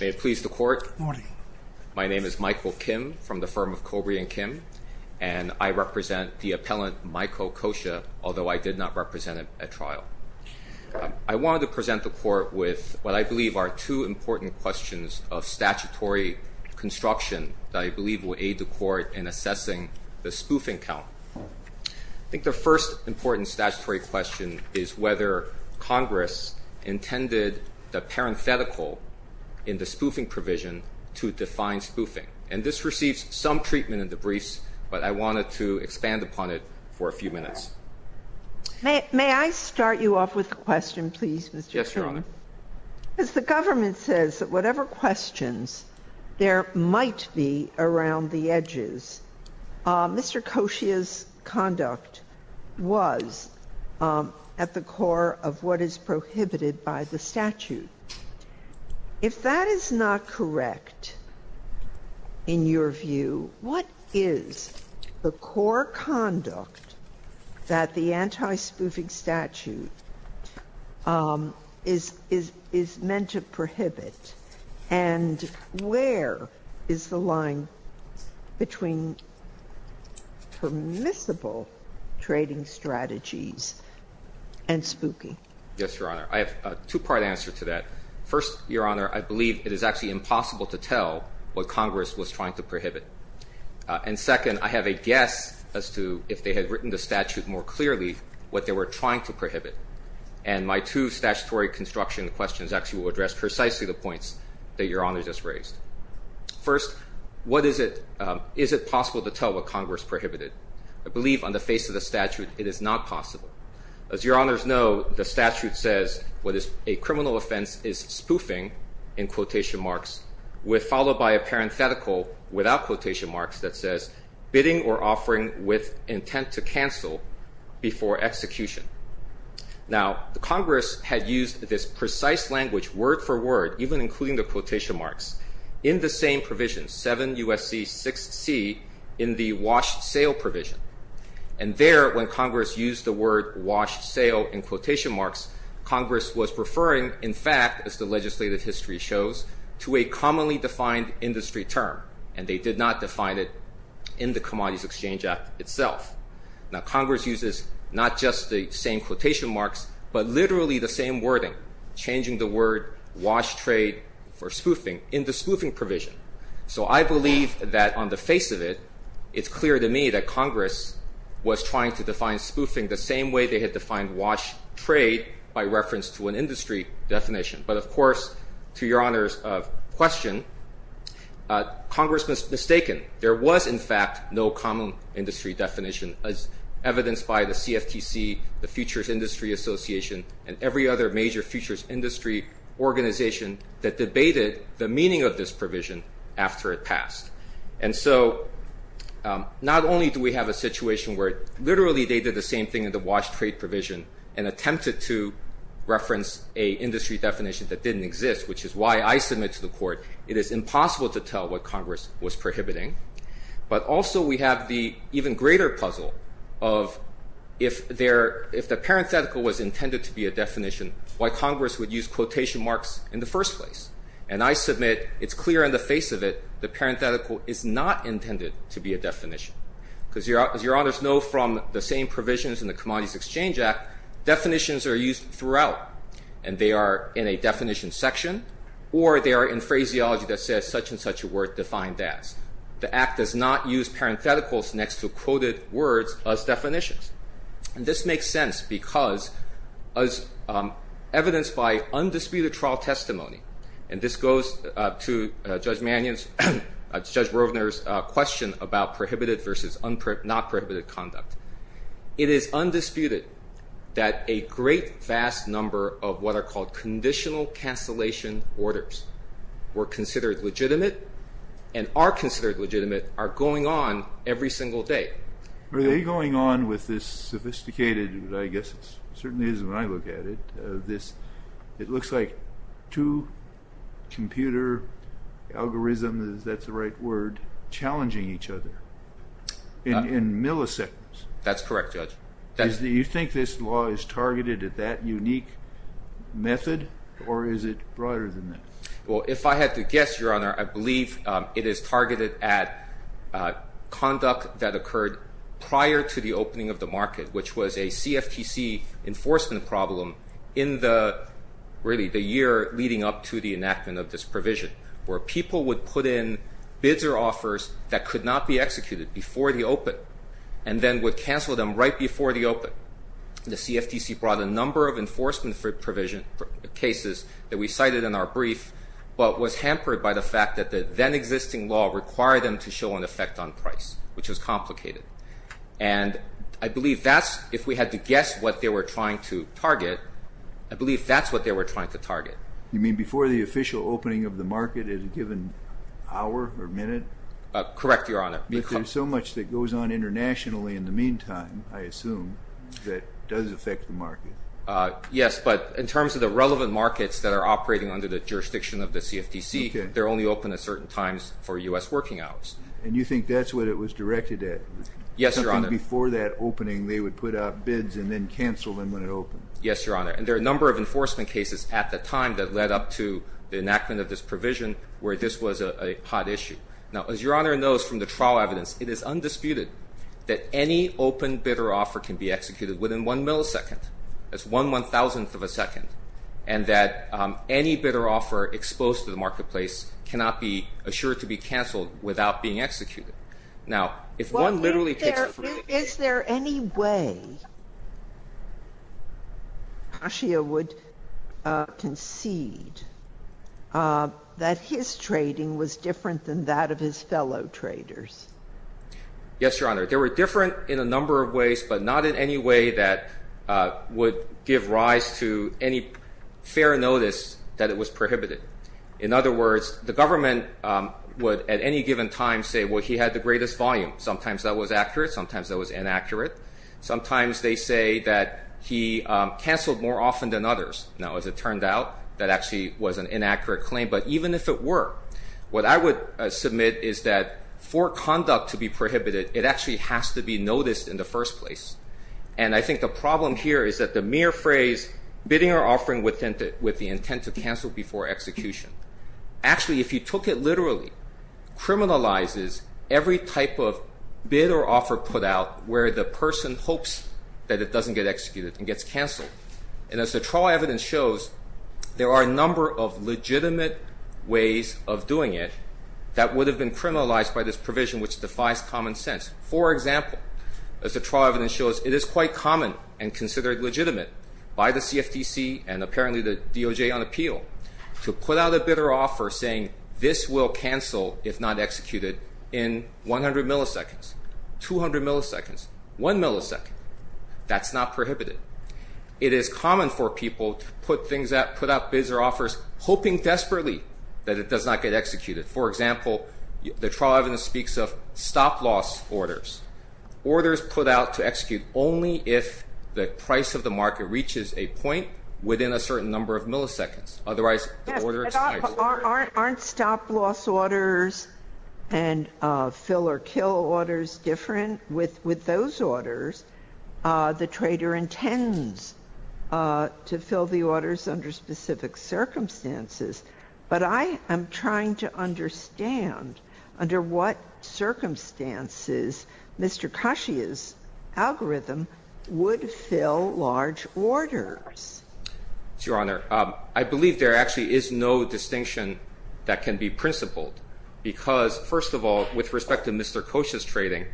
May it please the court. Good morning. My name is Michael Kim from the firm of Cobre and Kim and I represent the appellant Michael Coscia although I did not represent him at trial. I wanted to present the court with what I believe are two important questions of statutory construction that I believe will aid the court in assessing the spoofing count. I think the first important statutory question is whether Congress intended the parenthetical in the spoofing provision to define spoofing and this receives some treatment in the briefs but I wanted to expand upon it for a few minutes. May I start you off with a question please Mr. Chairman. Yes your honor. As the government says that whatever at the core of what is prohibited by the statute. If that is not correct in your view what is the core conduct that the anti-spoofing statute is is is meant to Yes your honor. I have a two-part answer to that. First your honor I believe it is actually impossible to tell what Congress was trying to prohibit and second I have a guess as to if they had written the statute more clearly what they were trying to prohibit and my two statutory construction questions actually will address precisely the points that your honor just raised. First what is it is it possible to tell what Congress prohibited? I believe on the face of the As your honors know the statute says what is a criminal offense is spoofing in quotation marks with followed by a parenthetical without quotation marks that says bidding or offering with intent to cancel before execution. Now the Congress had used this precise language word-for-word even including the quotation marks in the same provision 7 USC 6 C in the wash sale provision and there when Congress used the word wash sale in quotation marks Congress was referring in fact as the legislative history shows to a commonly defined industry term and they did not define it in the Commodities Exchange Act itself. Now Congress uses not just the same quotation marks but literally the same wording changing the word wash trade for spoofing in the spoofing So I believe that on the face of it it's clear to me that Congress was trying to define spoofing the same way they had defined wash trade by reference to an industry definition but of course to your honors of question Congress was mistaken there was in fact no common industry definition as evidenced by the CFTC the Futures Industry Association and every other major futures industry organization that debated the meaning of this provision after it passed and so not only do we have a situation where literally they did the same thing in the wash trade provision and attempted to reference a industry definition that didn't exist which is why I submit to the court it is impossible to tell what Congress was prohibiting but also we have the even greater puzzle of if there if the parenthetical was intended to be a definition why Congress would use quotation marks in the first place and I submit it's clear in the face of it the parenthetical is not intended to be a definition because your honors know from the same provisions in the Commodities Exchange Act definitions are used throughout and they are in a definition section or they are in phraseology that says such-and-such a word defined as. The Act does not use parentheticals next to quoted words as definitions and this makes sense because as evidenced by undisputed trial testimony and this goes to Judge Mannion's Judge Rovner's question about prohibited versus not prohibited conduct. It is undisputed that a great vast number of what are called conditional cancellation orders were considered legitimate and are considered legitimate are going on every single day. Are they going on with this sophisticated I guess it certainly is when I look at it this it looks like two computer algorithms that's the right word challenging each other in milliseconds. That's correct Judge. Do you think this law is targeted at that unique method or is it broader than that? Well if I had to guess your honor I believe it is targeted at conduct that problem in the really the year leading up to the enactment of this provision where people would put in bids or offers that could not be executed before the open and then would cancel them right before the open. The CFTC brought a number of enforcement for provision cases that we cited in our brief but was hampered by the fact that the then existing law required them to show an effect on price which was complicated and I believe that's if we had to guess what they were trying to target I believe that's what they were trying to target. You mean before the official opening of the market at a given hour or minute? Correct your honor. But there's so much that goes on internationally in the meantime I assume that does affect the market. Yes but in terms of the relevant markets that are operating under the jurisdiction of the CFTC they're only open at certain times for US working hours. And you think that's what it was directed at? Yes your honor. Before that opening they would put out bids and then cancel them when it opened. Yes your honor and there are a number of enforcement cases at the time that led up to the enactment of this provision where this was a hot issue. Now as your honor knows from the trial evidence it is undisputed that any open bid or offer can be executed within one millisecond. That's one one thousandth of a second and that any bid or offer exposed to the marketplace cannot be assured to be canceled without being executed. Now if one literally... Is there any way Kashia would concede that his trading was different than that of his fellow traders? Yes your honor. There were different in a number of ways but not in any way that would give rise to any fair notice that it was prohibited. In other words the government would at any given time say well he had the greatest volume sometimes that was accurate sometimes that was inaccurate. Sometimes they say that he canceled more often than others. Now as it turned out that actually was an inaccurate claim but even if it were what I would submit is that for conduct to be prohibited it actually has to be noticed in the first place. And I think the problem here is that the mere phrase bidding or offering with the intent to cancel before execution. Actually if you took it literally criminalizes every type of bid or offer put out where the person hopes that it doesn't get executed and gets canceled. And as the trial evidence shows there are a number of legitimate ways of doing it that would have been criminalized by this provision which defies common sense. For example as the trial evidence shows it is quite common and considered legitimate by the CFTC and apparently the DOJ on appeal to put out a bid or offer saying this will cancel if not executed in 100 milliseconds, 200 milliseconds, 1 millisecond. That's not prohibited. It is common for people to put things out, put out bids or offers hoping desperately that it does not get executed. For example the trial evidence speaks of stop-loss orders. Orders put out to execute only if the price of the order is higher than the number of milliseconds. Otherwise the order is not executed. Aren't stop-loss orders and fill-or-kill orders different with those orders? The trader intends to fill the orders under specific circumstances. But I am trying to understand under what circumstances Mr. Kashia's algorithm would fill large orders. Your Honor, I believe there actually is no distinction that can be principled because first of all with respect to Mr. Kashia's trading,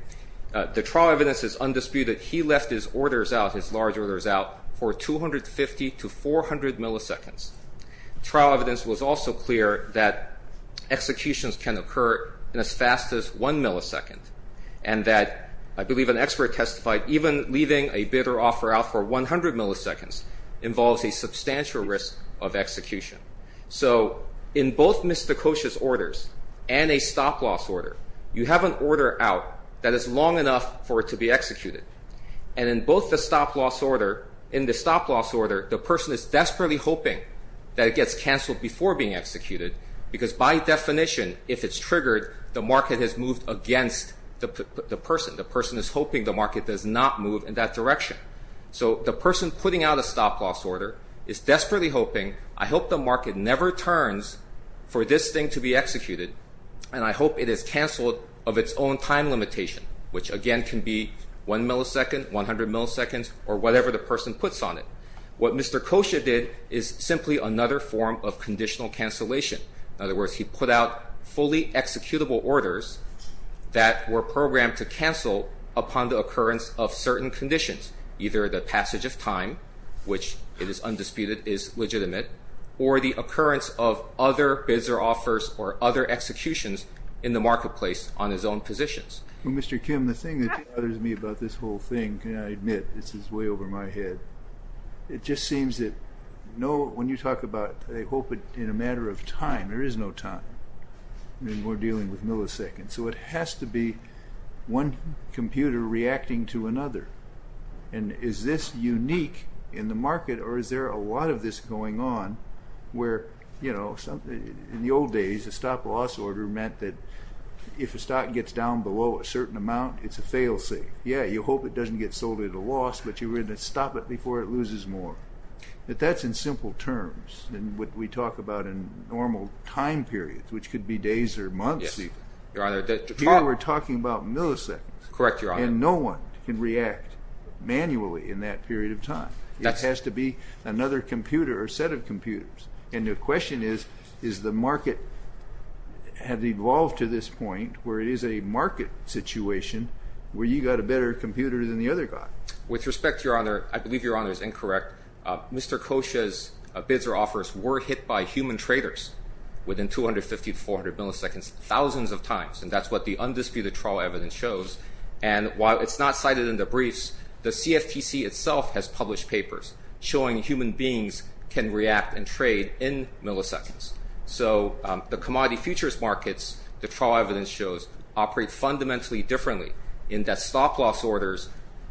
the trial evidence is undisputed. He left his orders out, his large orders out for 250 to 400 milliseconds. Trial evidence was also clear that executions can occur in as fast as 1 millisecond. And that I believe an expert testified even leaving a bid or offer involves a substantial risk of execution. So in both Mr. Kashia's orders and a stop-loss order, you have an order out that is long enough for it to be executed. And in both the stop-loss order, in the stop-loss order the person is desperately hoping that it gets canceled before being executed because by definition if it's triggered, the market has moved against the person. The person is hoping the market does not move in that direction. So the person in the stop-loss order is desperately hoping, I hope the market never turns for this thing to be executed and I hope it is canceled of its own time limitation, which again can be 1 millisecond, 100 milliseconds or whatever the person puts on it. What Mr. Kashia did is simply another form of conditional cancellation. In other words, he put out fully executable orders that were programmed to cancel upon the occurrence of certain conditions, either the execution of which it is undisputed is legitimate or the occurrence of other bids or offers or other executions in the marketplace on his own positions. Well, Mr. Kim, the thing that bothers me about this whole thing, and I admit this is way over my head, it just seems that when you talk about they hope in a matter of time, there is no time. We're dealing with milliseconds. So it has to be one computer reacting to another. And is this unique in the market or is there a lot of this going on where in the old days a stop-loss order meant that if a stock gets down below a certain amount, it's a fail-safe. Yeah, you hope it doesn't get sold at a loss, but you're going to stop it before it loses more. But that's in simple terms and what we talk about in normal time periods, which we're talking about milliseconds. Correct, Your Honor. And no one can react manually in that period of time. That has to be another computer or set of computers. And the question is, is the market have evolved to this point where it is a market situation where you got a better computer than the other guy? With respect, Your Honor, I believe Your Honor is incorrect. Mr. Kosha's bids or offers were hit by human traders within 250 to 400 milliseconds thousands of times. And that's what the undisputed trial evidence shows. And while it's not cited in the briefs, the CFTC itself has published papers showing human beings can react and trade in milliseconds. So the commodity futures markets, the trial evidence shows, operate fundamentally differently in that stop-loss orders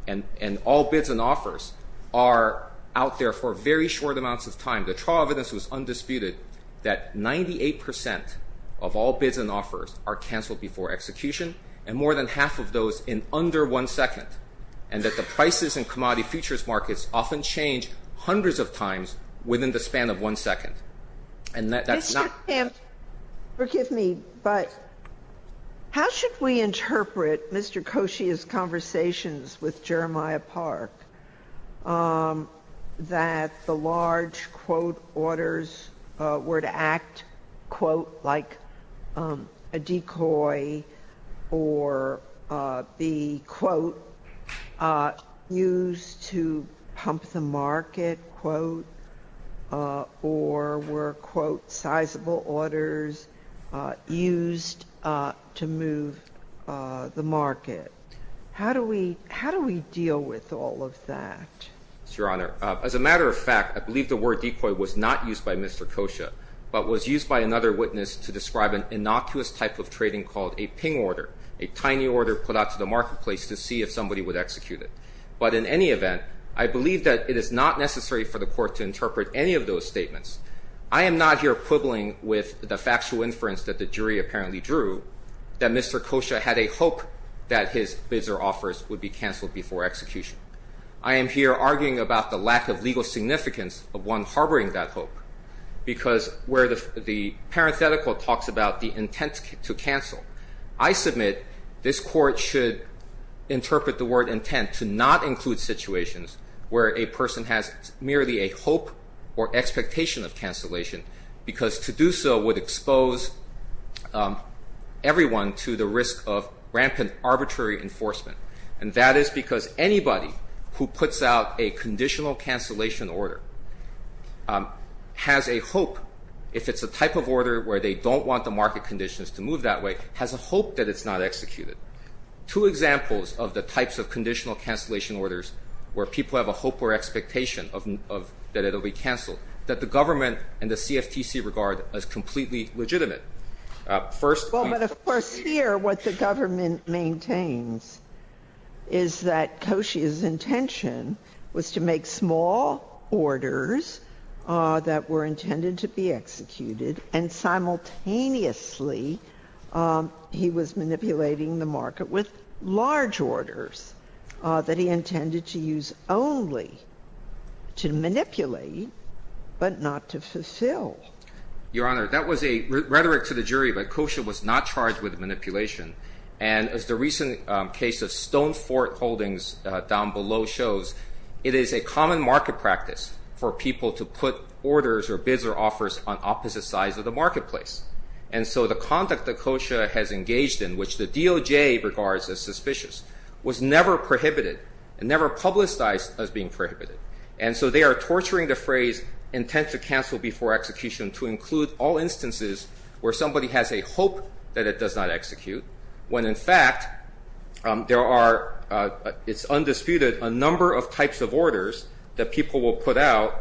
and all bids and offers are out there for very short amounts of time. The trial evidence shows that 80% of all bids and offers are canceled before execution and more than half of those in under one second. And that the prices and commodity futures markets often change hundreds of times within the span of one second. And that's not... Mr. Kamp, forgive me, but how should we interpret Mr. Kosha's conversations with Jeremiah Park that the large quote orders were to act quote like a decoy or be quote used to pump the market, quote, or were quote sizable orders used to move the market? How do we deal with all of that? Yes, Your Honor. As a matter of fact, I believe the word decoy was not used by another witness to describe an innocuous type of trading called a ping order, a tiny order put out to the marketplace to see if somebody would execute it. But in any event, I believe that it is not necessary for the court to interpret any of those statements. I am not here quibbling with the factual inference that the jury apparently drew, that Mr. Kosha had a hope that his bids or offers would be canceled before execution. I am here arguing about the lack of legal significance of one harboring that hope because where the parenthetical talks about the intent to cancel, I submit this court should interpret the word intent to not include situations where a person has merely a hope or expectation of cancellation because to do so would expose everyone to the risk of rampant arbitrary enforcement. And that is because anybody who puts out a conditional cancellation order has a hope, if it's a type of order where they don't want the market conditions to move that way, has a hope that it's not executed. Two examples of the types of conditional cancellation orders where people have a hope or expectation of that it will be canceled, that the government and the CFTC regard as completely legitimate. First, we Well, but of course here what the government maintains is that Kosha's intention was to make small orders that were intended to be executed and simultaneously he was manipulating the market with large orders that he intended to use only to manipulate but not to fulfill. Your Honor, that was a rhetoric to the jury, but Kosha was not charged with manipulation. And as the recent case of Stone Fort Holdings down below shows, it is a common market practice for people to put orders or bids or offers on opposite sides of the marketplace. And so the conduct that Kosha has engaged in, which the DOJ regards as suspicious, was never prohibited and never publicized as being prohibited. And so they are torturing the phrase intent to cancel before execution to include all instances where somebody has a hope that it does not execute when, in fact, there are it's undisputed a number of types of orders that people will put out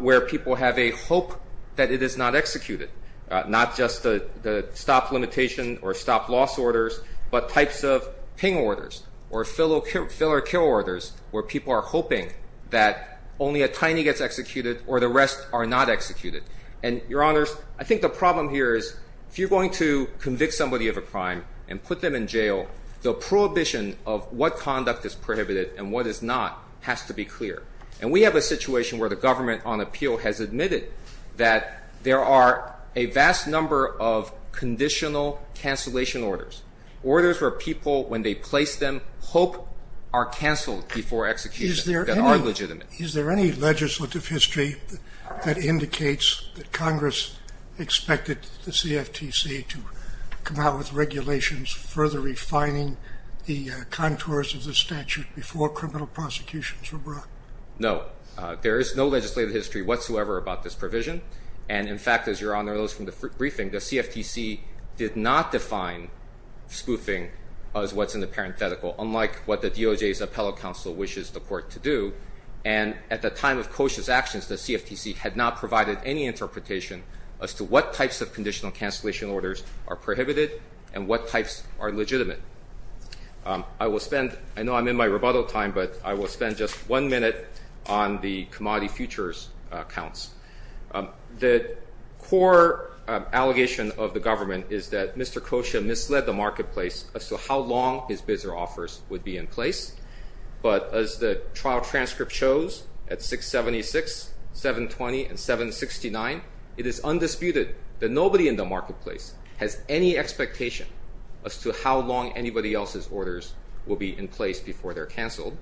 where people have a hope that it is not executed, not just the stop limitation or stop loss orders, but types of ping orders or fill or kill orders where people are hoping that only a tiny gets executed or the rest are not executed. And, Your Honors, I think the problem here is if you're going to convict somebody of a crime and put them in jail, the prohibition of what conduct is prohibited and what is not has to be clear. And we have a situation where the government on appeal has admitted that there are a vast number of conditional cancellation orders, orders where people, when they place them, hope are canceled before execution that are legitimate. Is there any legislative history that indicates that Congress expected the CFTC to come out with regulations further refining the contours of the statute before criminal prosecutions were brought? No. There is no legislative history whatsoever about this provision. And, in fact, as Your Honor knows from the briefing, the CFTC did not define spoofing as what's in the parenthetical, unlike what the DOJ's appellate counsel wishes the court to do. And at the time of Koshia's actions, the CFTC had not provided any interpretation as to what types of conditional cancellation orders are prohibited and what types are legitimate. I will spend, I know I'm in my rebuttal time, but I will spend just one minute on the commodity futures accounts. The core allegation of the government is that Mr. Koshia misled the marketplace as to how long his bids or offers would be in place. But as the trial transcript shows at 676, 720, and 769, it is undisputed that nobody in the marketplace has any expectation as to how long anybody else's orders will be in place before they're canceled.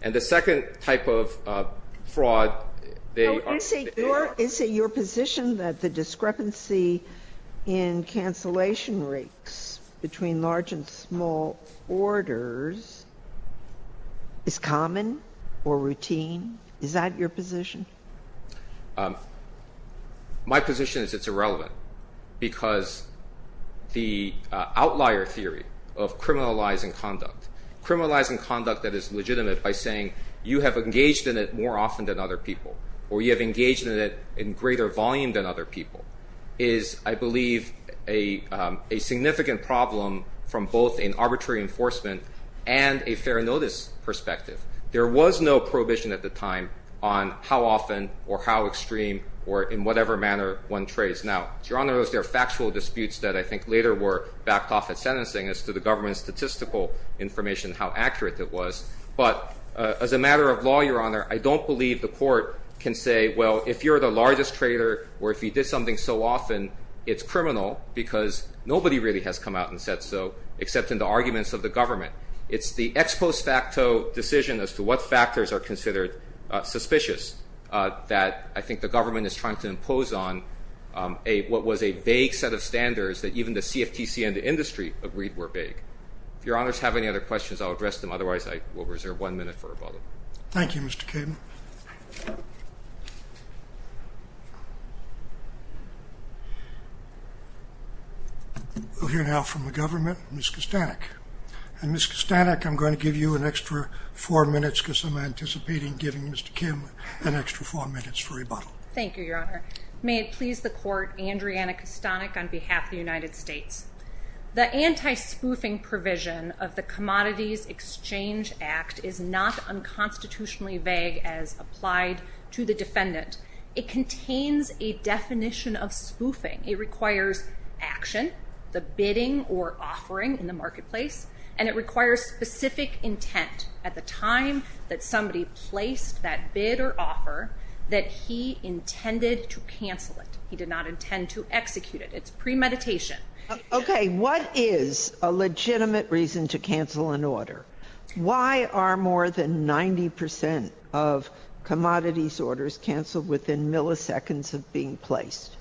And the second type of fraud, they are. Is it your position that the discrepancy in cancellation rates between large and small orders is common or routine? Is that your position? My position is it's irrelevant because the outlier theory of criminalizing conduct, criminalizing conduct that is legitimate by saying you have engaged in it more often than other people or you have engaged in it in greater volume than other people, is I believe a significant problem from both an arbitrary enforcement and a fair notice perspective. There was no prohibition at the time on how often or how extreme or in whatever manner one trades. Now, Your Honor, those are factual disputes that I think later were backed off at sentencing as to the government's statistical information, how accurate it was. But as a matter of law, Your Honor, I don't believe the court can say, well, if you're the largest trader or if you did something so often, it's criminal because nobody really has come out and said so except in the arguments of the government. It's the ex post facto decision as to what factors are considered suspicious that I think the government is trying to impose on what was a vague set of standards that even the CFTC and the industry agreed were vague. If Your Honors have any other questions, I'll address them. Otherwise, I will reserve one minute for rebuttal. Thank you, Mr. Kim. We'll hear now from the government, Ms. Kostanek. Ms. Kostanek, I'm going to give you an extra four minutes because I'm anticipating giving Mr. Kim an extra four minutes for rebuttal. Thank you, Your Honor. May it please the court, Andriana Kostanek on behalf of the United States. The anti-spoofing provision of the Commodities Exchange Act is not unconstitutionally vague as applied to the defendant. It contains a definition of spoofing. It requires action, the bidding or offering in the marketplace, and it requires specific intent at the time that somebody placed that bid or offer that he intended to cancel it. He did not intend to execute it. It's premeditation. Okay, what is a legitimate reason to cancel an order? Why are more than 90% of commodities orders canceled within milliseconds of being placed?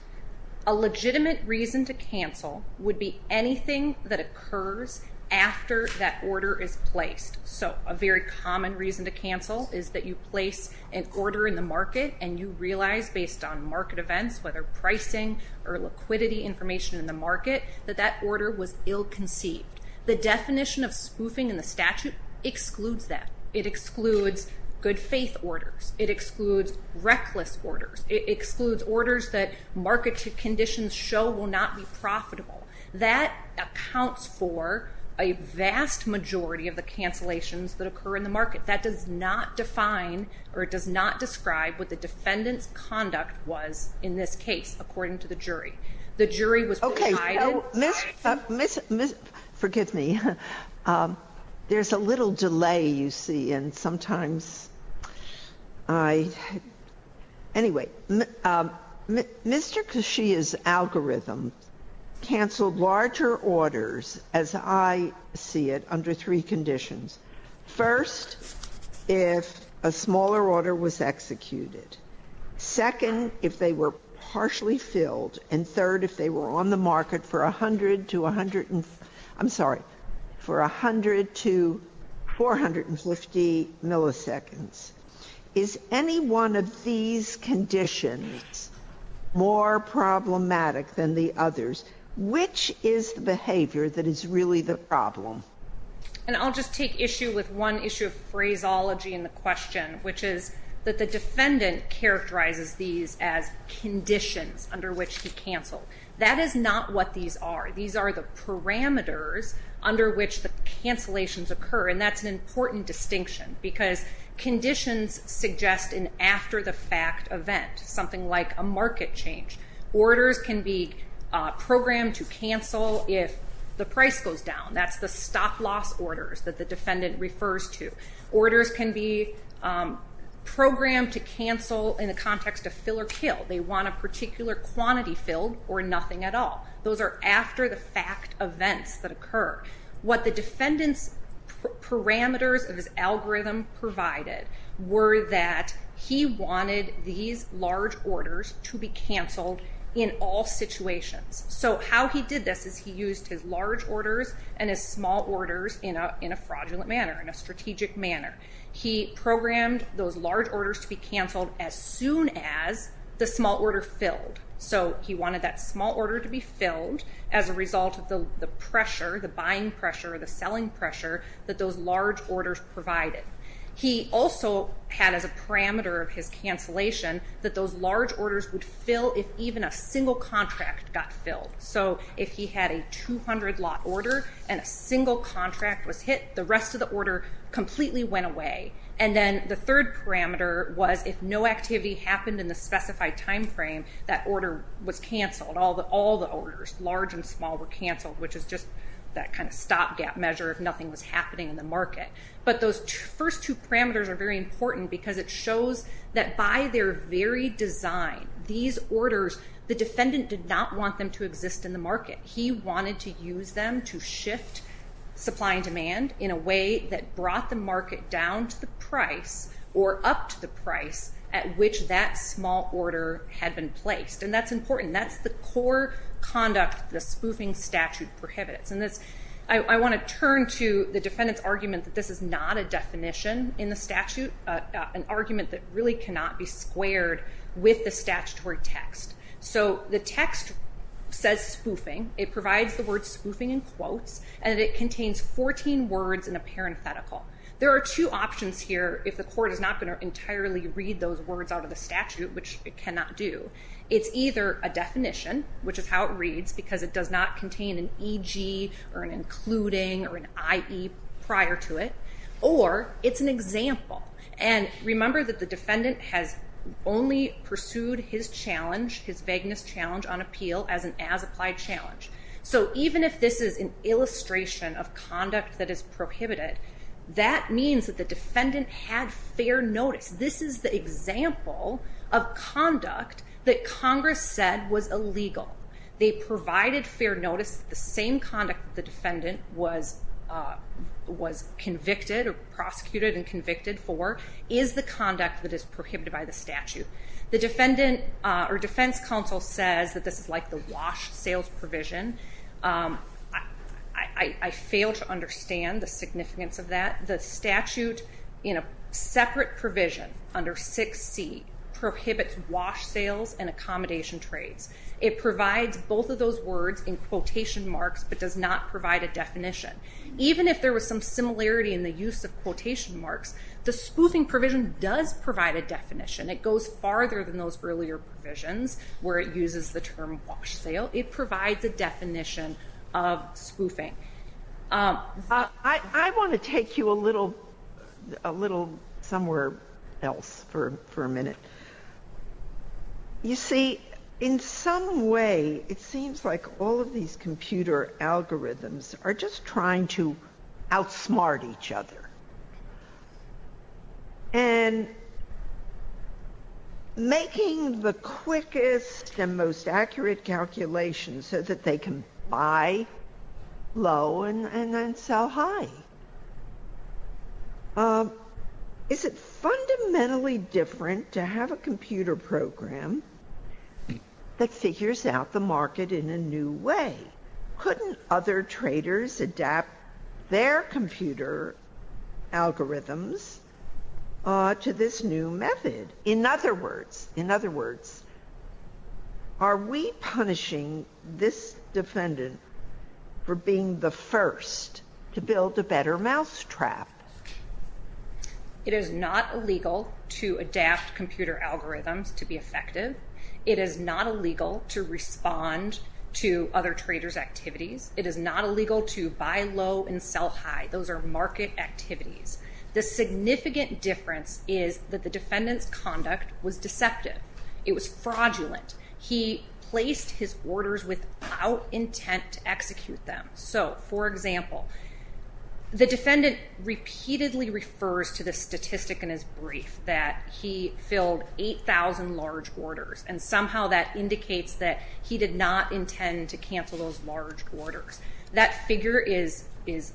A legitimate reason to cancel would be anything that occurs after that order is placed. So a very common reason to cancel is that you place an order in the market and you realize based on market events, whether pricing or liquidity information in the market, that that order was ill-conceived. The definition of spoofing in the statute excludes that. It excludes good-faith orders. It excludes reckless orders. It excludes orders that market conditions show will not be profitable. That accounts for a vast majority of the cancellations that occur in the market. That does not define or it does not describe what the defendant's conduct was in this case, according to the jury. The jury was provided. Okay. So Ms. Ms. Forgive me. There's a little delay, you see, and sometimes I anyway. Mr. Kashia's algorithm canceled larger orders, as I see it, under three conditions. First, if a smaller order was executed. Second, if they were partially filled. And third, if they were on the market for 100 to 100, I'm sorry, for 100 to 450 milliseconds. Is any one of these conditions more problematic than the others? Which is the behavior that is really the problem? And I'll just take issue with one issue of phraseology in the question, which is that the defendant characterizes these as conditions under which he canceled. That is not what these are. These are the parameters under which the cancellations occur, and that's an important distinction because conditions suggest an after-the-fact event, something like a market change. Orders can be programmed to cancel if the price goes down. That's the stop-loss orders that the defendant refers to. Orders can be programmed to cancel in the context of fill or kill. They want a particular quantity filled or nothing at all. Those are after-the-fact events that occur. What the defendant's parameters of his algorithm provided were that he wanted these large orders to be canceled in all situations. So how he did this is he used his large orders and his small orders in a fraudulent manner, in a strategic manner. He programmed those large orders to be canceled as soon as the small order filled. So he wanted that small order to be filled as a result of the pressure, the buying pressure, the selling pressure that those large orders provided. He also had as a parameter of his cancellation that those large orders would fill if even a single contract got filled. So if he had a 200-lot order and a single contract was hit, the rest of the order completely went away. And then the third parameter was if no activity happened in the specified timeframe, that order was canceled. All the orders, large and small, were canceled, which is just that kind of stop-gap measure if nothing was happening in the market. But those first two parameters are very important because it shows that by their very design, these orders, the defendant did not want them to exist in the market. He wanted to use them to shift supply and demand in a way that brought the market down to the price or up to the price at which that small order had been placed. And that's important. That's the core conduct the spoofing statute prohibits. And I want to turn to the defendant's argument that this is not a definition in the statute, an argument that really cannot be squared with the statutory text. So the text says spoofing. It provides the word spoofing in quotes, and it contains 14 words in a parenthetical. There are two options here if the court is not going to entirely read those words out of the statute, which it cannot do. It's either a definition, which is how it reads because it does not contain an EG or an including or an IE prior to it, or it's an example. And remember that the defendant has only pursued his challenge, his vagueness challenge, on appeal as an as-applied challenge. So even if this is an illustration of conduct that is prohibited, that means that the defendant had fair notice. This is the example of conduct that Congress said was illegal. They provided fair notice that the same conduct that the defendant was convicted or prosecuted and convicted for is the conduct that is prohibited by the statute. The defense counsel says that this is like the wash sales provision. I fail to understand the significance of that. The statute in a separate provision under 6C prohibits wash sales and accommodation trades. It provides both of those words in quotation marks but does not provide a definition. Even if there was some similarity in the use of quotation marks, the spoofing provision does provide a definition. It goes farther than those earlier provisions where it uses the term wash sale. It provides a definition of spoofing. I want to take you a little somewhere else for a minute. You see, in some way it seems like all of these computer algorithms are just trying to outsmart each other and making the quickest and most accurate calculations so that they can buy low and then sell high. Is it fundamentally different to have a computer program that figures out the market in a new way? Couldn't other traders adapt their computer algorithms to this new method? In other words, are we punishing this defendant for being the first to build a better mousetrap? It is not illegal to adapt computer algorithms to be effective. It is not illegal to respond to other traders' activities. It is not illegal to buy low and sell high. Those are market activities. The significant difference is that the defendant's conduct was deceptive. It was fraudulent. He placed his orders without intent to execute them. For example, the defendant repeatedly refers to the statistic in his brief that he filled 8,000 large orders. Somehow that indicates that he did not intend to cancel those large orders. That figure is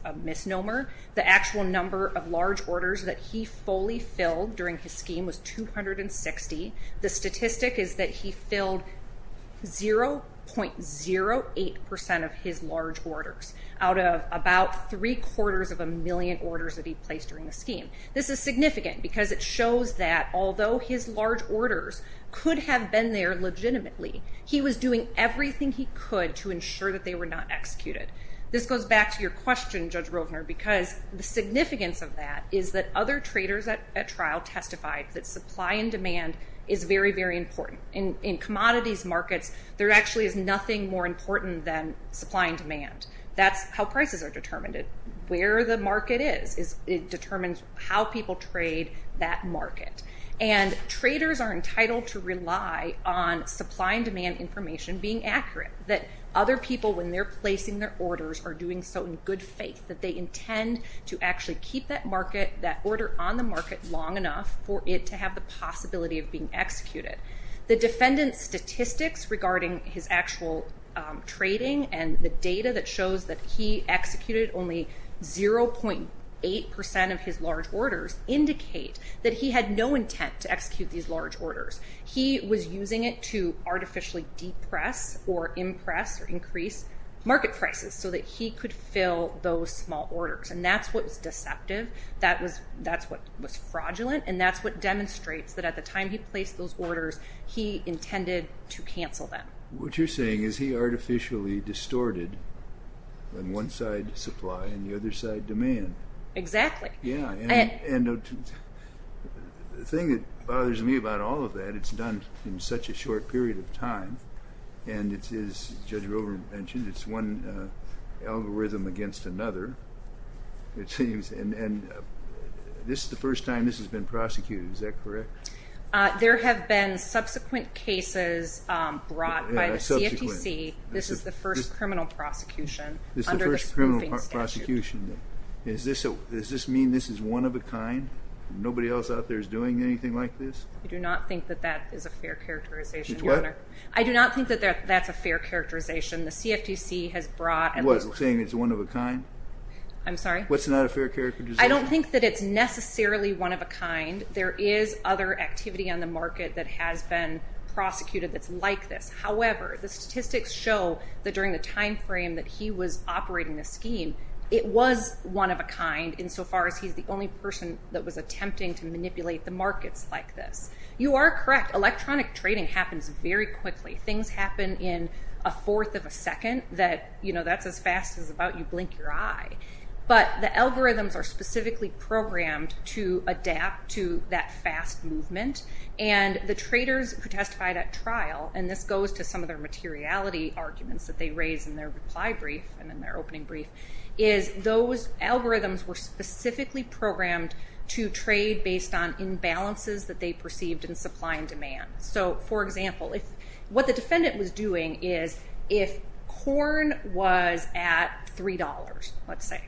a misnomer. The actual number of large orders that he fully filled during his scheme was 260. The statistic is that he filled 0.08% of his large orders out of about three-quarters of a million orders that he placed during the scheme. This is significant because it shows that although his large orders could have been there legitimately, he was doing everything he could to ensure that they were not executed. This goes back to your question, Judge Rovner, because the significance of that is that other traders at trial testified that supply and demand is very, very important. In commodities markets, there actually is nothing more important than supply and demand. That's how prices are determined. Where the market is determines how people trade that market. And traders are entitled to rely on supply and demand information being accurate. That other people, when they're placing their orders, are doing so in good faith. That they intend to actually keep that order on the market long enough for it to have the possibility of being executed. The defendant's statistics regarding his actual trading and the data that shows that he executed only 0.8% of his large orders indicate that he had no intent to execute these large orders. He was using it to artificially depress or impress or increase market prices so that he could fill those small orders. And that's what was deceptive. That's what was fraudulent. And that's what demonstrates that at the time he placed those orders, he intended to cancel them. What you're saying is he artificially distorted one side, supply, and the other side, demand. Exactly. Yeah, and the thing that bothers me about all of that, it's done in such a short period of time. And as Judge Rover mentioned, it's one algorithm against another. And this is the first time this has been prosecuted, is that correct? There have been subsequent cases brought by the CFTC. This is the first criminal prosecution under the spoofing statute. Does this mean this is one-of-a-kind? Nobody else out there is doing anything like this? I do not think that that is a fair characterization, Your Honor. It's what? I do not think that that's a fair characterization. The CFTC has brought at least one. What, saying it's one-of-a-kind? I'm sorry? What's not a fair characterization? I don't think that it's necessarily one-of-a-kind. There is other activity on the market that has been prosecuted that's like this. However, the statistics show that during the time frame that he was operating the scheme, it was one-of-a-kind insofar as he's the only person that was attempting to manipulate the markets like this. You are correct. Electronic trading happens very quickly. Things happen in a fourth of a second that, you know, that's as fast as about you blink your eye. But the algorithms are specifically programmed to adapt to that fast movement. And the traders who testified at trial, and this goes to some of their materiality arguments that they raised in their reply brief and in their opening brief, is those algorithms were specifically programmed to trade based on imbalances that they perceived in supply and demand. So, for example, what the defendant was doing is if corn was at $3, let's say,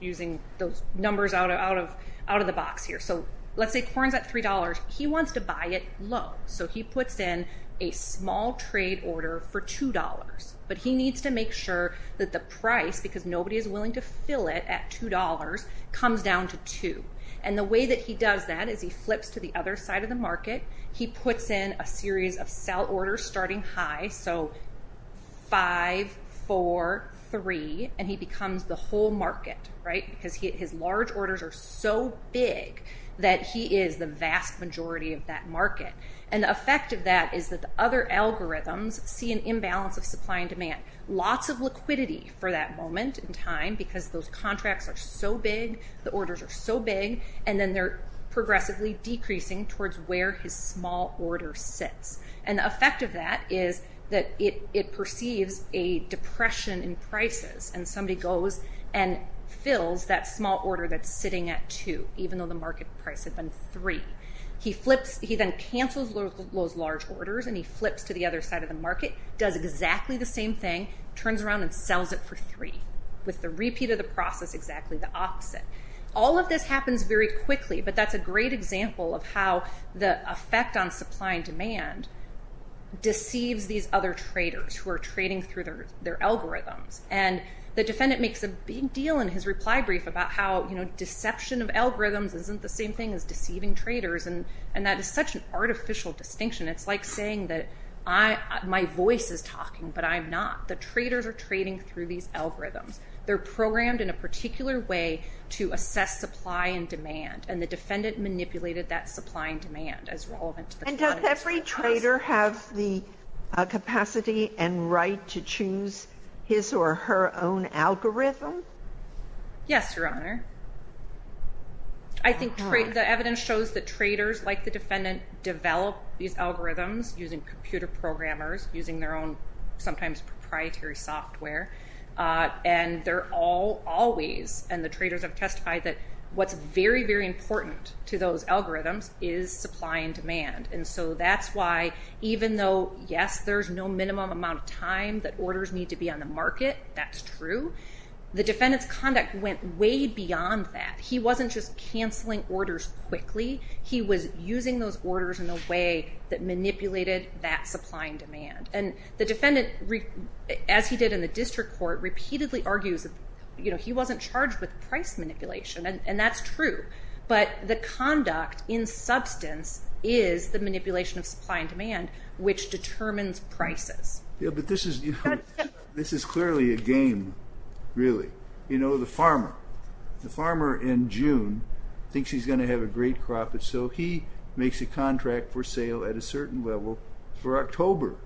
using those numbers out of the box here. So let's say corn's at $3. He wants to buy it low. So he puts in a small trade order for $2. But he needs to make sure that the price, because nobody is willing to fill it at $2, comes down to 2. And the way that he does that is he flips to the other side of the market. He puts in a series of sell orders starting high, so 5, 4, 3, and he becomes the whole market, right? Because his large orders are so big that he is the vast majority of that market. And the effect of that is that the other algorithms see an imbalance of supply and demand. Lots of liquidity for that moment in time because those contracts are so big, the orders are so big, and then they're progressively decreasing towards where his small order sits. And the effect of that is that it perceives a depression in prices. And somebody goes and fills that small order that's sitting at 2, even though the market price had been 3. He then cancels those large orders, and he flips to the other side of the market, does exactly the same thing, turns around and sells it for 3, with the repeat of the process exactly the opposite. All of this happens very quickly, but that's a great example of how the effect on supply and demand deceives these other traders who are trading through their algorithms. And the defendant makes a big deal in his reply brief about how, you know, deception of algorithms isn't the same thing as deceiving traders, and that is such an artificial distinction. It's like saying that my voice is talking, but I'm not. The traders are trading through these algorithms. They're programmed in a particular way to assess supply and demand, and the defendant manipulated that supply and demand as relevant to the context. Does every trader have the capacity and right to choose his or her own algorithm? Yes, Your Honor. I think the evidence shows that traders like the defendant develop these algorithms using computer programmers, using their own sometimes proprietary software, and they're all always, and the traders have testified that what's very, very important to those algorithms is supply and demand. And so that's why, even though, yes, there's no minimum amount of time that orders need to be on the market, that's true, the defendant's conduct went way beyond that. He wasn't just canceling orders quickly. He was using those orders in a way that manipulated that supply and demand. And the defendant, as he did in the district court, repeatedly argues, you know, he wasn't charged with price manipulation, and that's true. But the conduct in substance is the manipulation of supply and demand, which determines prices. Yeah, but this is clearly a game, really. You know, the farmer. The farmer in June thinks he's going to have a great crop, and so he makes a contract for sale at a certain level for October.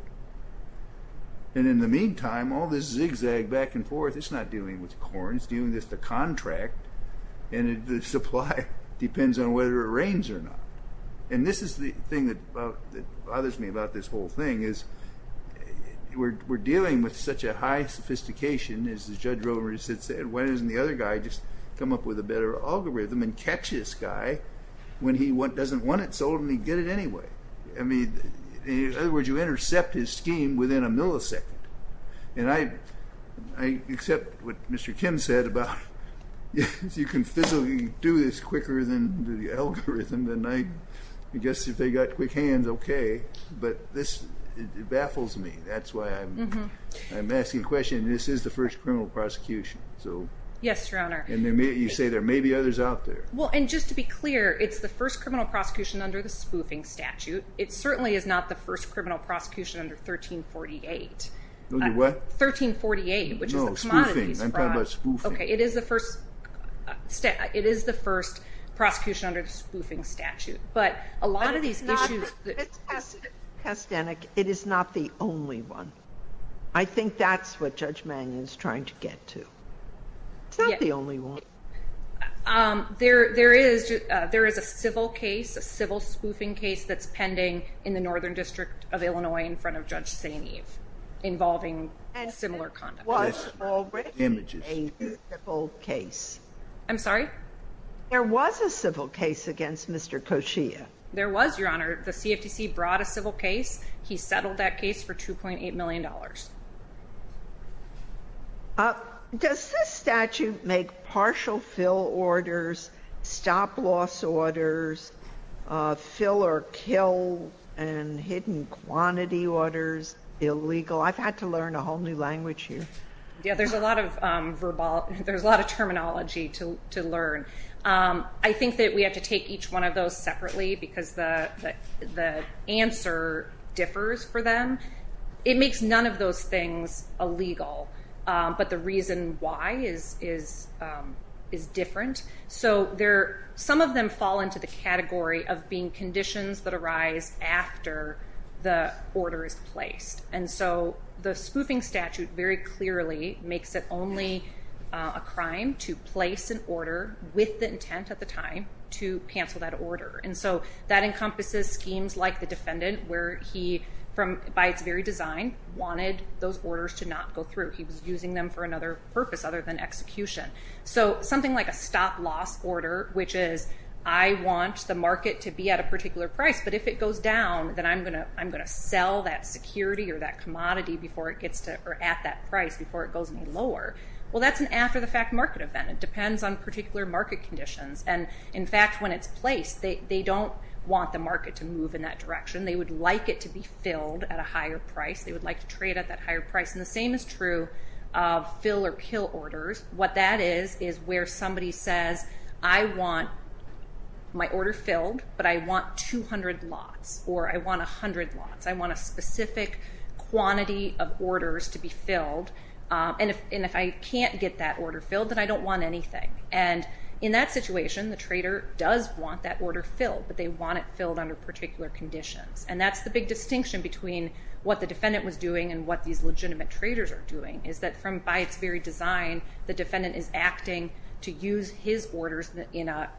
And in the meantime, all this zigzag back and forth, it's not dealing with corn. It's dealing with the contract, and the supply depends on whether it rains or not. And this is the thing that bothers me about this whole thing, is we're dealing with such a high sophistication, as Judge Romer said, when doesn't the other guy just come up with a better algorithm and catch this guy when he doesn't want it sold and he'd get it anyway? I mean, in other words, you intercept his scheme within a millisecond. And I accept what Mr. Kim said about you can physically do this quicker than the algorithm, and I guess if they've got quick hands, okay, but this baffles me. That's why I'm asking a question, and this is the first criminal prosecution. Yes, Your Honor. And you say there may be others out there. Well, and just to be clear, it's the first criminal prosecution under the spoofing statute. It certainly is not the first criminal prosecution under 1348. Under what? 1348, which is the commodities fraud. No, spoofing. I'm talking about spoofing. Okay, it is the first prosecution under the spoofing statute. But a lot of these issues. Cass Stanek, it is not the only one. I think that's what Judge Mannion is trying to get to. It's not the only one. There is a civil case, a civil spoofing case, that's pending in the Northern District of Illinois in front of Judge St. Eve involving similar conduct. And there was already a civil case. I'm sorry? There was a civil case against Mr. Koshia. There was, Your Honor. The CFTC brought a civil case. He settled that case for $2.8 million. Does this statute make partial fill orders, stop loss orders, fill or kill, and hidden quantity orders illegal? I've had to learn a whole new language here. Yeah, there's a lot of terminology to learn. I think that we have to take each one of those separately because the answer differs for them. It makes none of those things illegal. But the reason why is different. So some of them fall into the category of being conditions that arise after the order is placed. And so the spoofing statute very clearly makes it only a crime to place an order with the intent at the time to cancel that order. And so that encompasses schemes like the defendant where he, by its very design, wanted those orders to not go through. He was using them for another purpose other than execution. So something like a stop loss order, which is I want the market to be at a particular price. But if it goes down, then I'm going to sell that security or that commodity at that price before it goes any lower. Well, that's an after-the-fact market event. It depends on particular market conditions. And, in fact, when it's placed, they don't want the market to move in that direction. They would like it to be filled at a higher price. They would like to trade at that higher price. And the same is true of fill or kill orders. What that is is where somebody says, I want my order filled, but I want 200 lots or I want 100 lots. I want a specific quantity of orders to be filled. And if I can't get that order filled, then I don't want anything. And in that situation, the trader does want that order filled, but they want it filled under particular conditions. And that's the big distinction between what the defendant was doing and what these legitimate traders are doing, is that by its very design, the defendant is acting to use his orders in a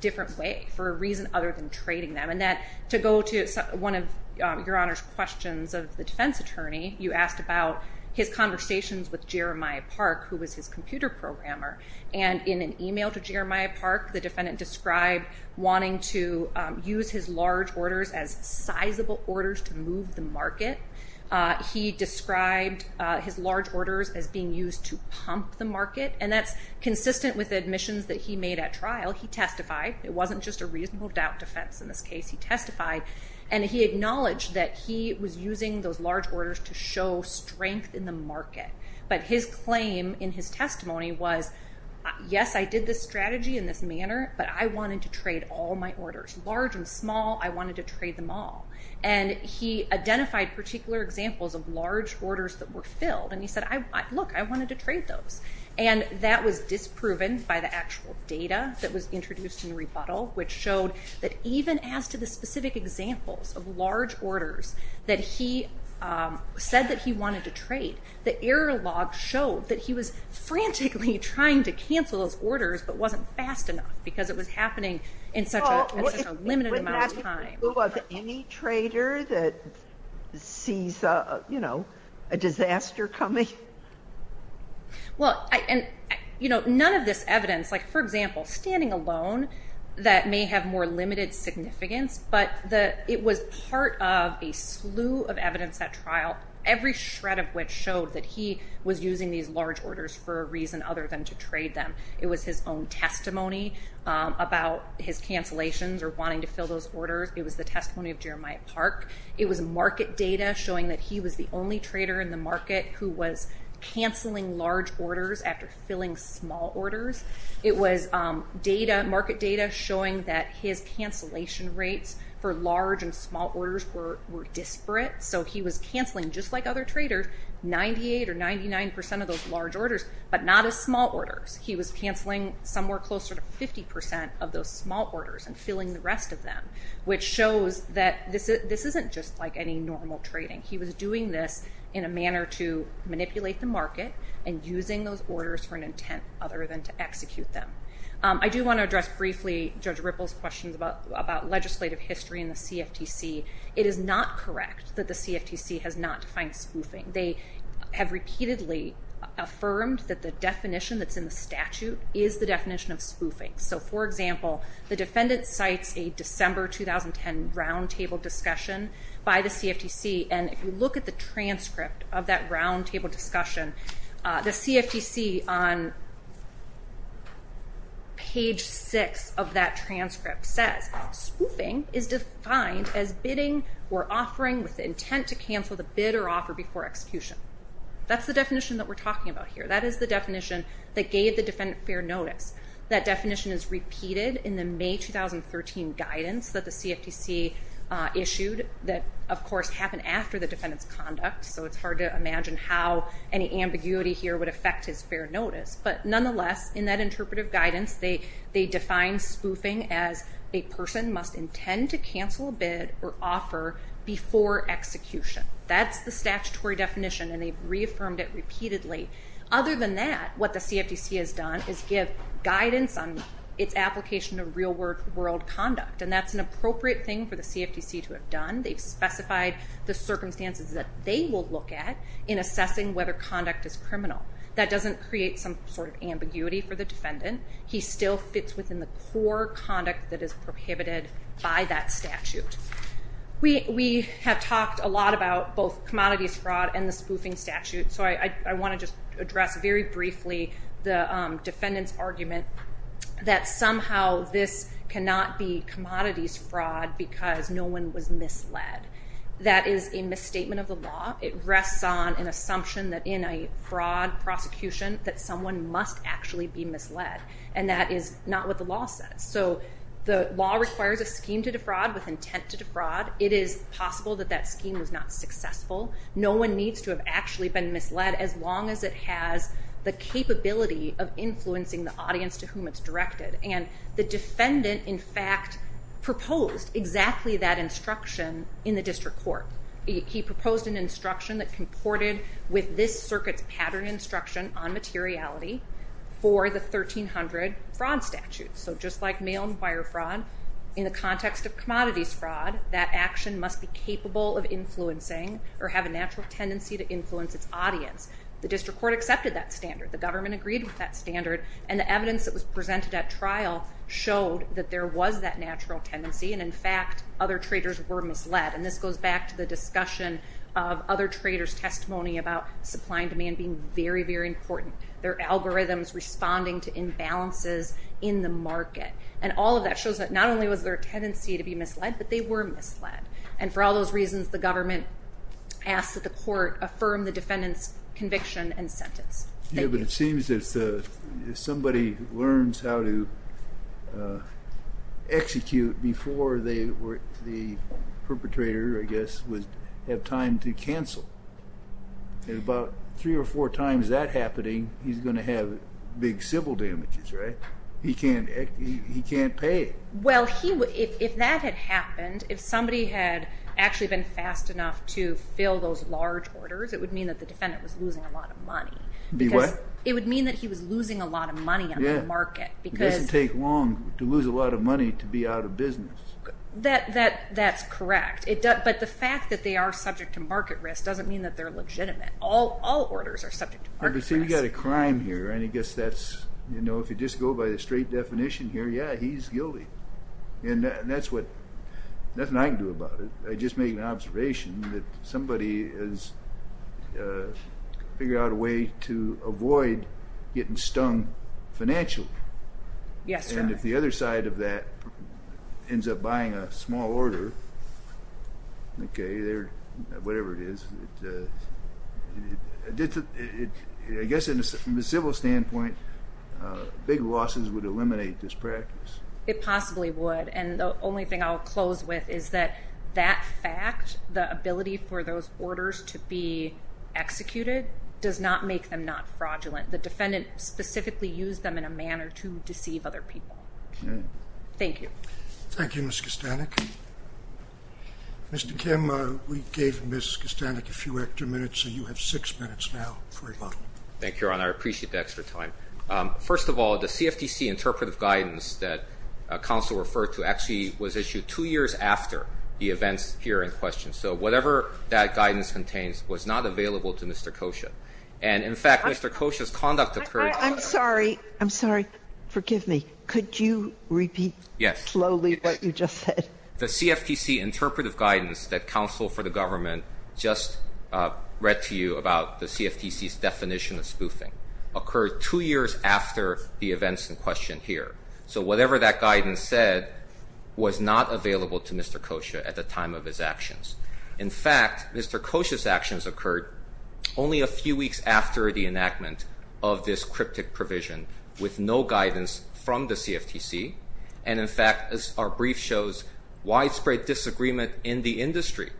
different way for a reason other than trading them. And to go to one of Your Honor's questions of the defense attorney, you asked about his conversations with Jeremiah Park, who was his computer programmer. And in an email to Jeremiah Park, the defendant described wanting to use his large orders as sizable orders to move the market. He described his large orders as being used to pump the market. And that's consistent with the admissions that he made at trial. He testified. It wasn't just a reasonable doubt defense in this case. He testified and he acknowledged that he was using those large orders to show strength in the market. But his claim in his testimony was, yes, I did this strategy in this manner, but I wanted to trade all my orders. Large and small, I wanted to trade them all. And he identified particular examples of large orders that were filled. And he said, look, I wanted to trade those. And that was disproven by the actual data that was introduced in the rebuttal, which showed that even as to the specific examples of large orders that he said that he wanted to trade, the error log showed that he was frantically trying to cancel his orders, but wasn't fast enough because it was happening in such a limited amount of time. Any trader that sees, you know, a disaster coming? Well, and, you know, none of this evidence, like, for example, standing alone, that may have more limited significance, but it was part of a slew of evidence at trial, every shred of which showed that he was using these large orders for a reason other than to trade them. It was his own testimony about his cancellations or wanting to fill those orders. It was the testimony of Jeremiah Park. It was market data showing that he was the only trader in the market who was canceling large orders after filling small orders. It was data, market data, showing that his cancellation rates for large and small orders were disparate. So he was canceling, just like other traders, 98 or 99 percent of those large orders, but not his small orders. He was canceling somewhere closer to 50 percent of those small orders and filling the rest of them, which shows that this isn't just like any normal trading. He was doing this in a manner to manipulate the market and using those orders for an intent other than to execute them. I do want to address briefly Judge Ripple's questions about legislative history in the CFTC. It is not correct that the CFTC has not defined spoofing. They have repeatedly affirmed that the definition that's in the statute is the definition of spoofing. So, for example, the defendant cites a December 2010 roundtable discussion by the CFTC, and if you look at the transcript of that roundtable discussion, the CFTC on page 6 of that transcript says, spoofing is defined as bidding or offering with the intent to cancel the bid or offer before execution. That's the definition that we're talking about here. That is the definition that gave the defendant fair notice. That definition is repeated in the May 2013 guidance that the CFTC issued that, of course, happened after the defendant's conduct, so it's hard to imagine how any ambiguity here would affect his fair notice. But nonetheless, in that interpretive guidance, they define spoofing as a person must intend to cancel a bid or offer before execution. That's the statutory definition, and they've reaffirmed it repeatedly. Other than that, what the CFTC has done is give guidance on its application of real-world conduct, and that's an appropriate thing for the CFTC to have done. They've specified the circumstances that they will look at in assessing whether conduct is criminal. That doesn't create some sort of ambiguity for the defendant. He still fits within the core conduct that is prohibited by that statute. We have talked a lot about both commodities fraud and the spoofing statute, so I want to just address very briefly the defendant's argument that somehow this cannot be commodities fraud because no one was misled. That is a misstatement of the law. It rests on an assumption that in a fraud prosecution that someone must actually be misled, and that is not what the law says. So the law requires a scheme to defraud with intent to defraud. It is possible that that scheme was not successful. No one needs to have actually been misled as long as it has the capability of influencing the audience to whom it's directed, and the defendant, in fact, proposed exactly that instruction in the district court. He proposed an instruction that comported with this circuit's pattern instruction on materiality for the 1300 fraud statute. So just like mail and wire fraud, in the context of commodities fraud, that action must be capable of influencing or have a natural tendency to influence its audience. The district court accepted that standard. The government agreed with that standard, and the evidence that was presented at trial showed that there was that natural tendency, and in fact, other traders were misled, and this goes back to the discussion of other traders' testimony about supply and demand being very, very important. There are algorithms responding to imbalances in the market, and all of that shows that not only was there a tendency to be misled, but they were misled, and for all those reasons, the government asked that the court affirm the defendant's conviction and sentence. Thank you. Yeah, but it seems that if somebody learns how to execute before the perpetrator, I guess, would have time to cancel, and about three or four times that happening, he's going to have big civil damages, right? He can't pay it. Well, if that had happened, if somebody had actually been fast enough to fill those large orders, it would mean that the defendant was losing a lot of money. Be what? It would mean that he was losing a lot of money on the market because... It doesn't take long to lose a lot of money to be out of business. That's correct, but the fact that they are subject to market risk doesn't mean that they're legitimate. All orders are subject to market risk. See, we've got a crime here, and I guess that's, you know, if you just go by the straight definition here, yeah, he's guilty, and that's what, nothing I can do about it. I just made an observation that somebody has figured out a way to avoid getting stung financially. Yes, sir. And if the other side of that ends up buying a small order, okay, whatever it is, I guess from a civil standpoint, big losses would eliminate this practice. It possibly would, and the only thing I'll close with is that that fact, the ability for those orders to be executed, does not make them not fraudulent. The defendant specifically used them in a manner to deceive other people. Thank you. Thank you, Ms. Kostanek. Mr. Kim, we gave Ms. Kostanek a few extra minutes, so you have six minutes now for rebuttal. Thank you, Your Honor. I appreciate the extra time. First of all, the CFTC interpretive guidance that counsel referred to actually was issued two years after the events here in question. So whatever that guidance contains was not available to Mr. Kosha. And, in fact, Mr. Kosha's conduct occurred. I'm sorry. I'm sorry. Forgive me. Could you repeat slowly what you just said? Yes. The CFTC interpretive guidance that counsel for the government just read to you about the CFTC's definition of spoofing occurred two years after the events in question here. So whatever that guidance said was not available to Mr. Kosha at the time of his actions. In fact, Mr. Kosha's actions occurred only a few weeks after the enactment of this cryptic provision with no guidance from the CFTC. And, in fact, our brief shows widespread disagreement in the industry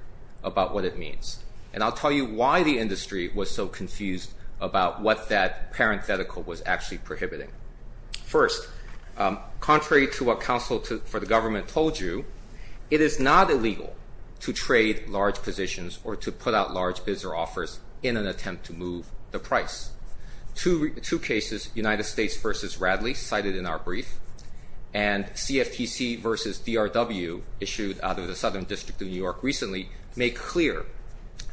about what it means. And I'll tell you why the industry was so confused about what that parenthetical was actually prohibiting. First, contrary to what counsel for the government told you, it is not illegal to trade large positions or to put out large bids or offers in an attempt to move the price. Two cases, United States v. Radley, cited in our brief, and CFTC v. DRW, issued out of the Southern District of New York recently, make clear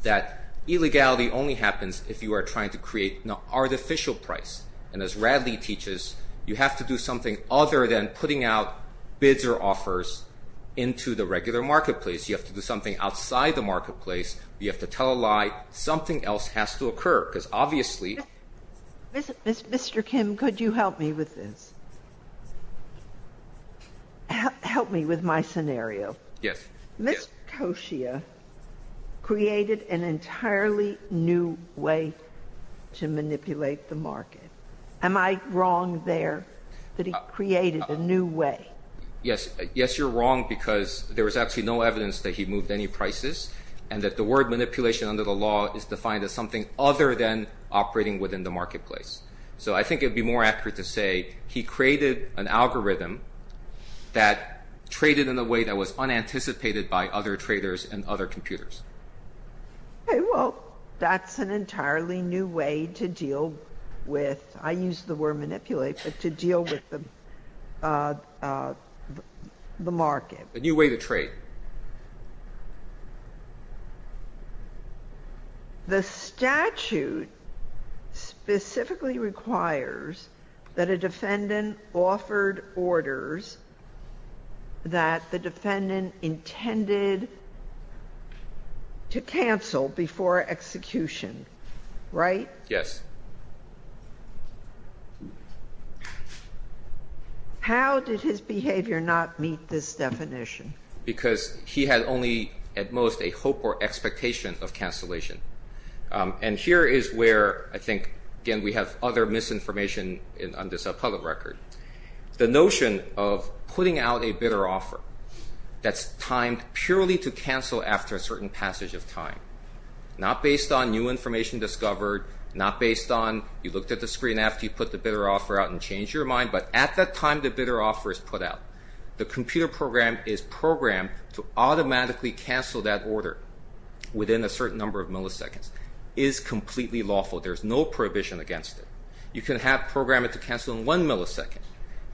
that illegality only happens if you are trying to create an artificial price. And as Radley teaches, you have to do something other than putting out bids or offers into the regular marketplace. You have to do something outside the marketplace. You have to tell a lie. Something else has to occur because obviously — Mr. Kim, could you help me with this? Help me with my scenario. Yes. Ms. Koshia created an entirely new way to manipulate the market. Am I wrong there that he created a new way? Yes. Yes, you're wrong because there was actually no evidence that he moved any prices and that the word manipulation under the law is defined as something other than operating within the marketplace. So I think it would be more accurate to say he created an algorithm that traded in a way that was unanticipated by other traders and other computers. Okay, well, that's an entirely new way to deal with — I use the word manipulate, but to deal with the market. A new way to trade. The statute specifically requires that a defendant offered orders that the defendant intended to cancel before execution, right? Yes. How did his behavior not meet this definition? Because he had only at most a hope or expectation of cancellation. And here is where I think, again, we have other misinformation on this public record. The notion of putting out a bidder offer that's timed purely to cancel after a certain passage of time, not based on new information discovered, not based on you looked at the screen after you put the bidder offer out and changed your mind, but at that time the bidder offer is put out. The computer program is programmed to automatically cancel that order within a certain number of milliseconds. It is completely lawful. There is no prohibition against it. You can program it to cancel in one millisecond.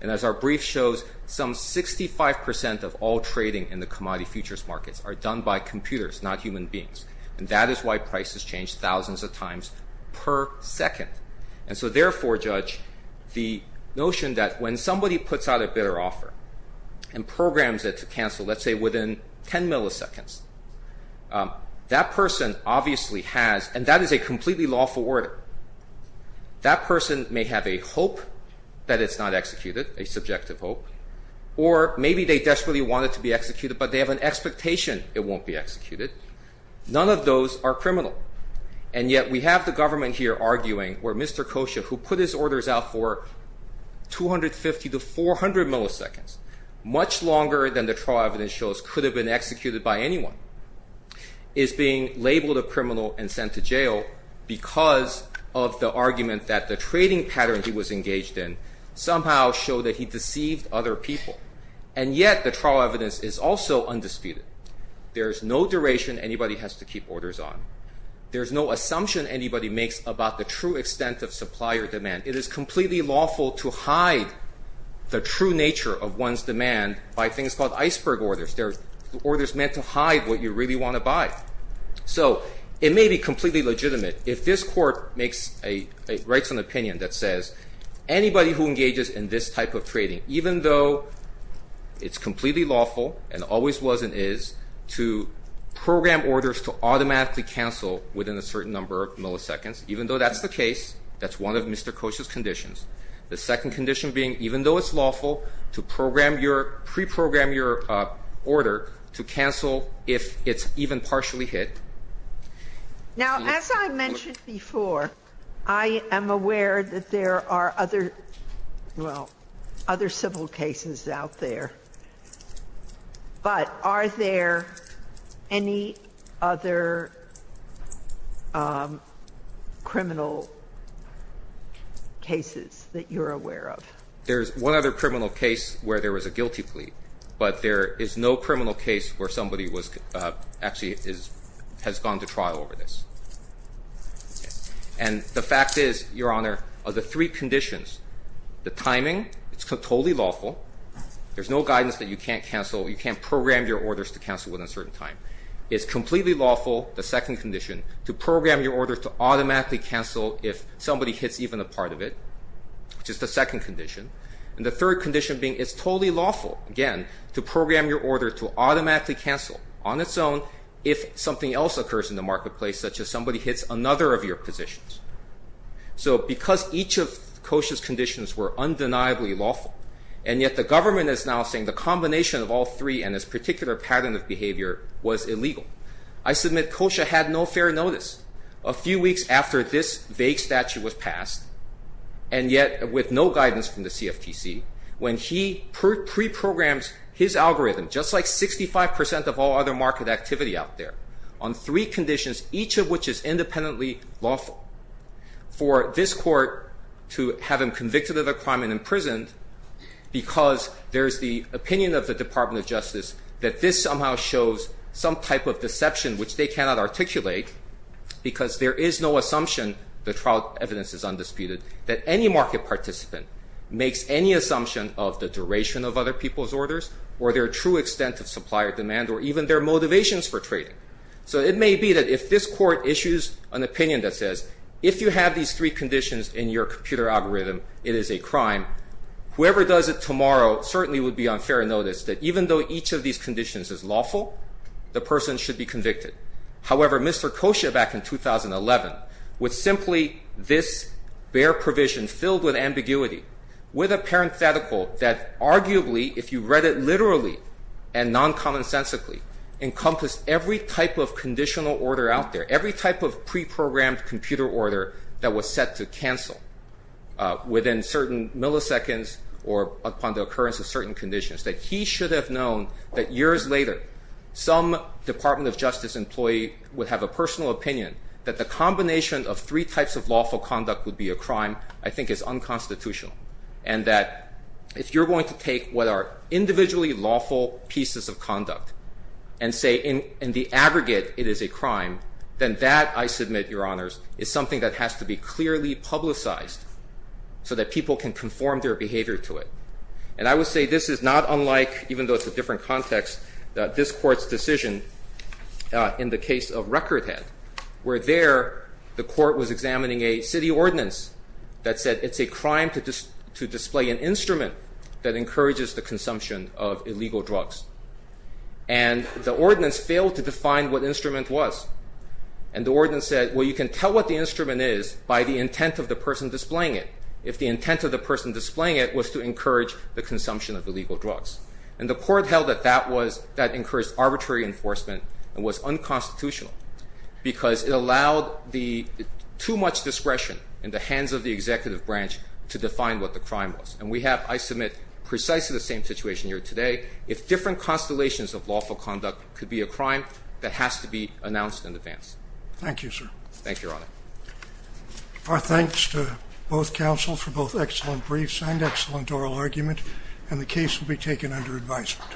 And as our brief shows, some 65 percent of all trading in the commodity futures markets are done by computers, not human beings. And that is why prices change thousands of times per second. And so therefore, Judge, the notion that when somebody puts out a bidder offer and programs it to cancel, let's say within 10 milliseconds, that person obviously has, and that is a completely lawful order, that person may have a hope that it's not executed, a subjective hope, or maybe they desperately want it to be executed but they have an expectation it won't be executed. None of those are criminal. And yet we have the government here arguing where Mr. Kosha, who put his orders out for 250 to 400 milliseconds, much longer than the trial evidence shows could have been executed by anyone, is being labeled a criminal and sent to jail because of the argument that the trading pattern he was engaged in somehow showed that he deceived other people. And yet the trial evidence is also undisputed. There's no duration anybody has to keep orders on. There's no assumption anybody makes about the true extent of supplier demand. It is completely lawful to hide the true nature of one's demand by things called iceberg orders. They're orders meant to hide what you really want to buy. So it may be completely legitimate. If this court writes an opinion that says anybody who engages in this type of trading, even though it's completely lawful and always was and is, to program orders to automatically cancel within a certain number of milliseconds, even though that's the case, that's one of Mr. Kosha's conditions. The second condition being even though it's lawful to program your pre-program your order to cancel if it's even partially hit. Now, as I mentioned before, I am aware that there are other, well, other civil cases out there. But are there any other criminal cases that you're aware of? There's one other criminal case where there was a guilty plea. But there is no criminal case where somebody actually has gone to trial over this. And the fact is, Your Honor, of the three conditions, the timing, it's totally lawful. There's no guidance that you can't cancel. You can't program your orders to cancel within a certain time. It's completely lawful, the second condition, to program your order to automatically cancel if somebody hits even a part of it, which is the second condition. And the third condition being it's totally lawful, again, to program your order to automatically cancel on its own if something else occurs in the marketplace, such as somebody hits another of your positions. So because each of Kosha's conditions were undeniably lawful, and yet the government is now saying the combination of all three and this particular pattern of behavior was illegal, I submit Kosha had no fair notice. A few weeks after this vague statute was passed, and yet with no guidance from the CFTC, when he preprograms his algorithm, just like 65% of all other market activity out there, on three conditions, each of which is independently lawful, for this court to have him convicted of a crime and imprisoned because there's the opinion of the Department of Justice that this somehow shows some type of deception which they cannot articulate because there is no assumption, the trial evidence is undisputed, that any market participant makes any assumption of the duration of other people's orders or their true extent of supply or demand or even their motivations for trading. So it may be that if this court issues an opinion that says if you have these three conditions in your computer algorithm, it is a crime, whoever does it tomorrow certainly would be on fair notice that even though each of these conditions is lawful, the person should be convicted. However, Mr. Kosha back in 2011, with simply this bare provision filled with ambiguity, with a parenthetical that arguably, if you read it literally and non-common sensically, encompassed every type of conditional order out there, every type of preprogrammed computer order that was set to cancel within certain milliseconds or upon the occurrence of certain conditions, that he should have known that years later some Department of Justice employee would have a personal opinion that the combination of three types of lawful conduct would be a crime I think is unconstitutional and that if you're going to take what are individually lawful pieces of conduct and say in the aggregate it is a crime, then that, I submit, Your Honors, is something that has to be clearly publicized so that people can conform their behavior to it. And I would say this is not unlike, even though it's a different context, this Court's decision in the case of Recordhead where there the Court was examining a city ordinance that said it's a crime to display an instrument that encourages the consumption of illegal drugs. And the ordinance failed to define what the instrument was. And the ordinance said, well, you can tell what the instrument is by the intent of the person displaying it. If the intent of the person displaying it was to encourage the consumption of illegal drugs. And the Court held that that encouraged arbitrary enforcement and was unconstitutional because it allowed too much discretion in the hands of the executive branch to define what the crime was. And we have, I submit, precisely the same situation here today. If different constellations of lawful conduct could be a crime, that has to be announced in advance. Thank you, sir. Thank you, Your Honor. Our thanks to both counsels for both excellent briefs and excellent oral argument. And the case will be taken under advisement.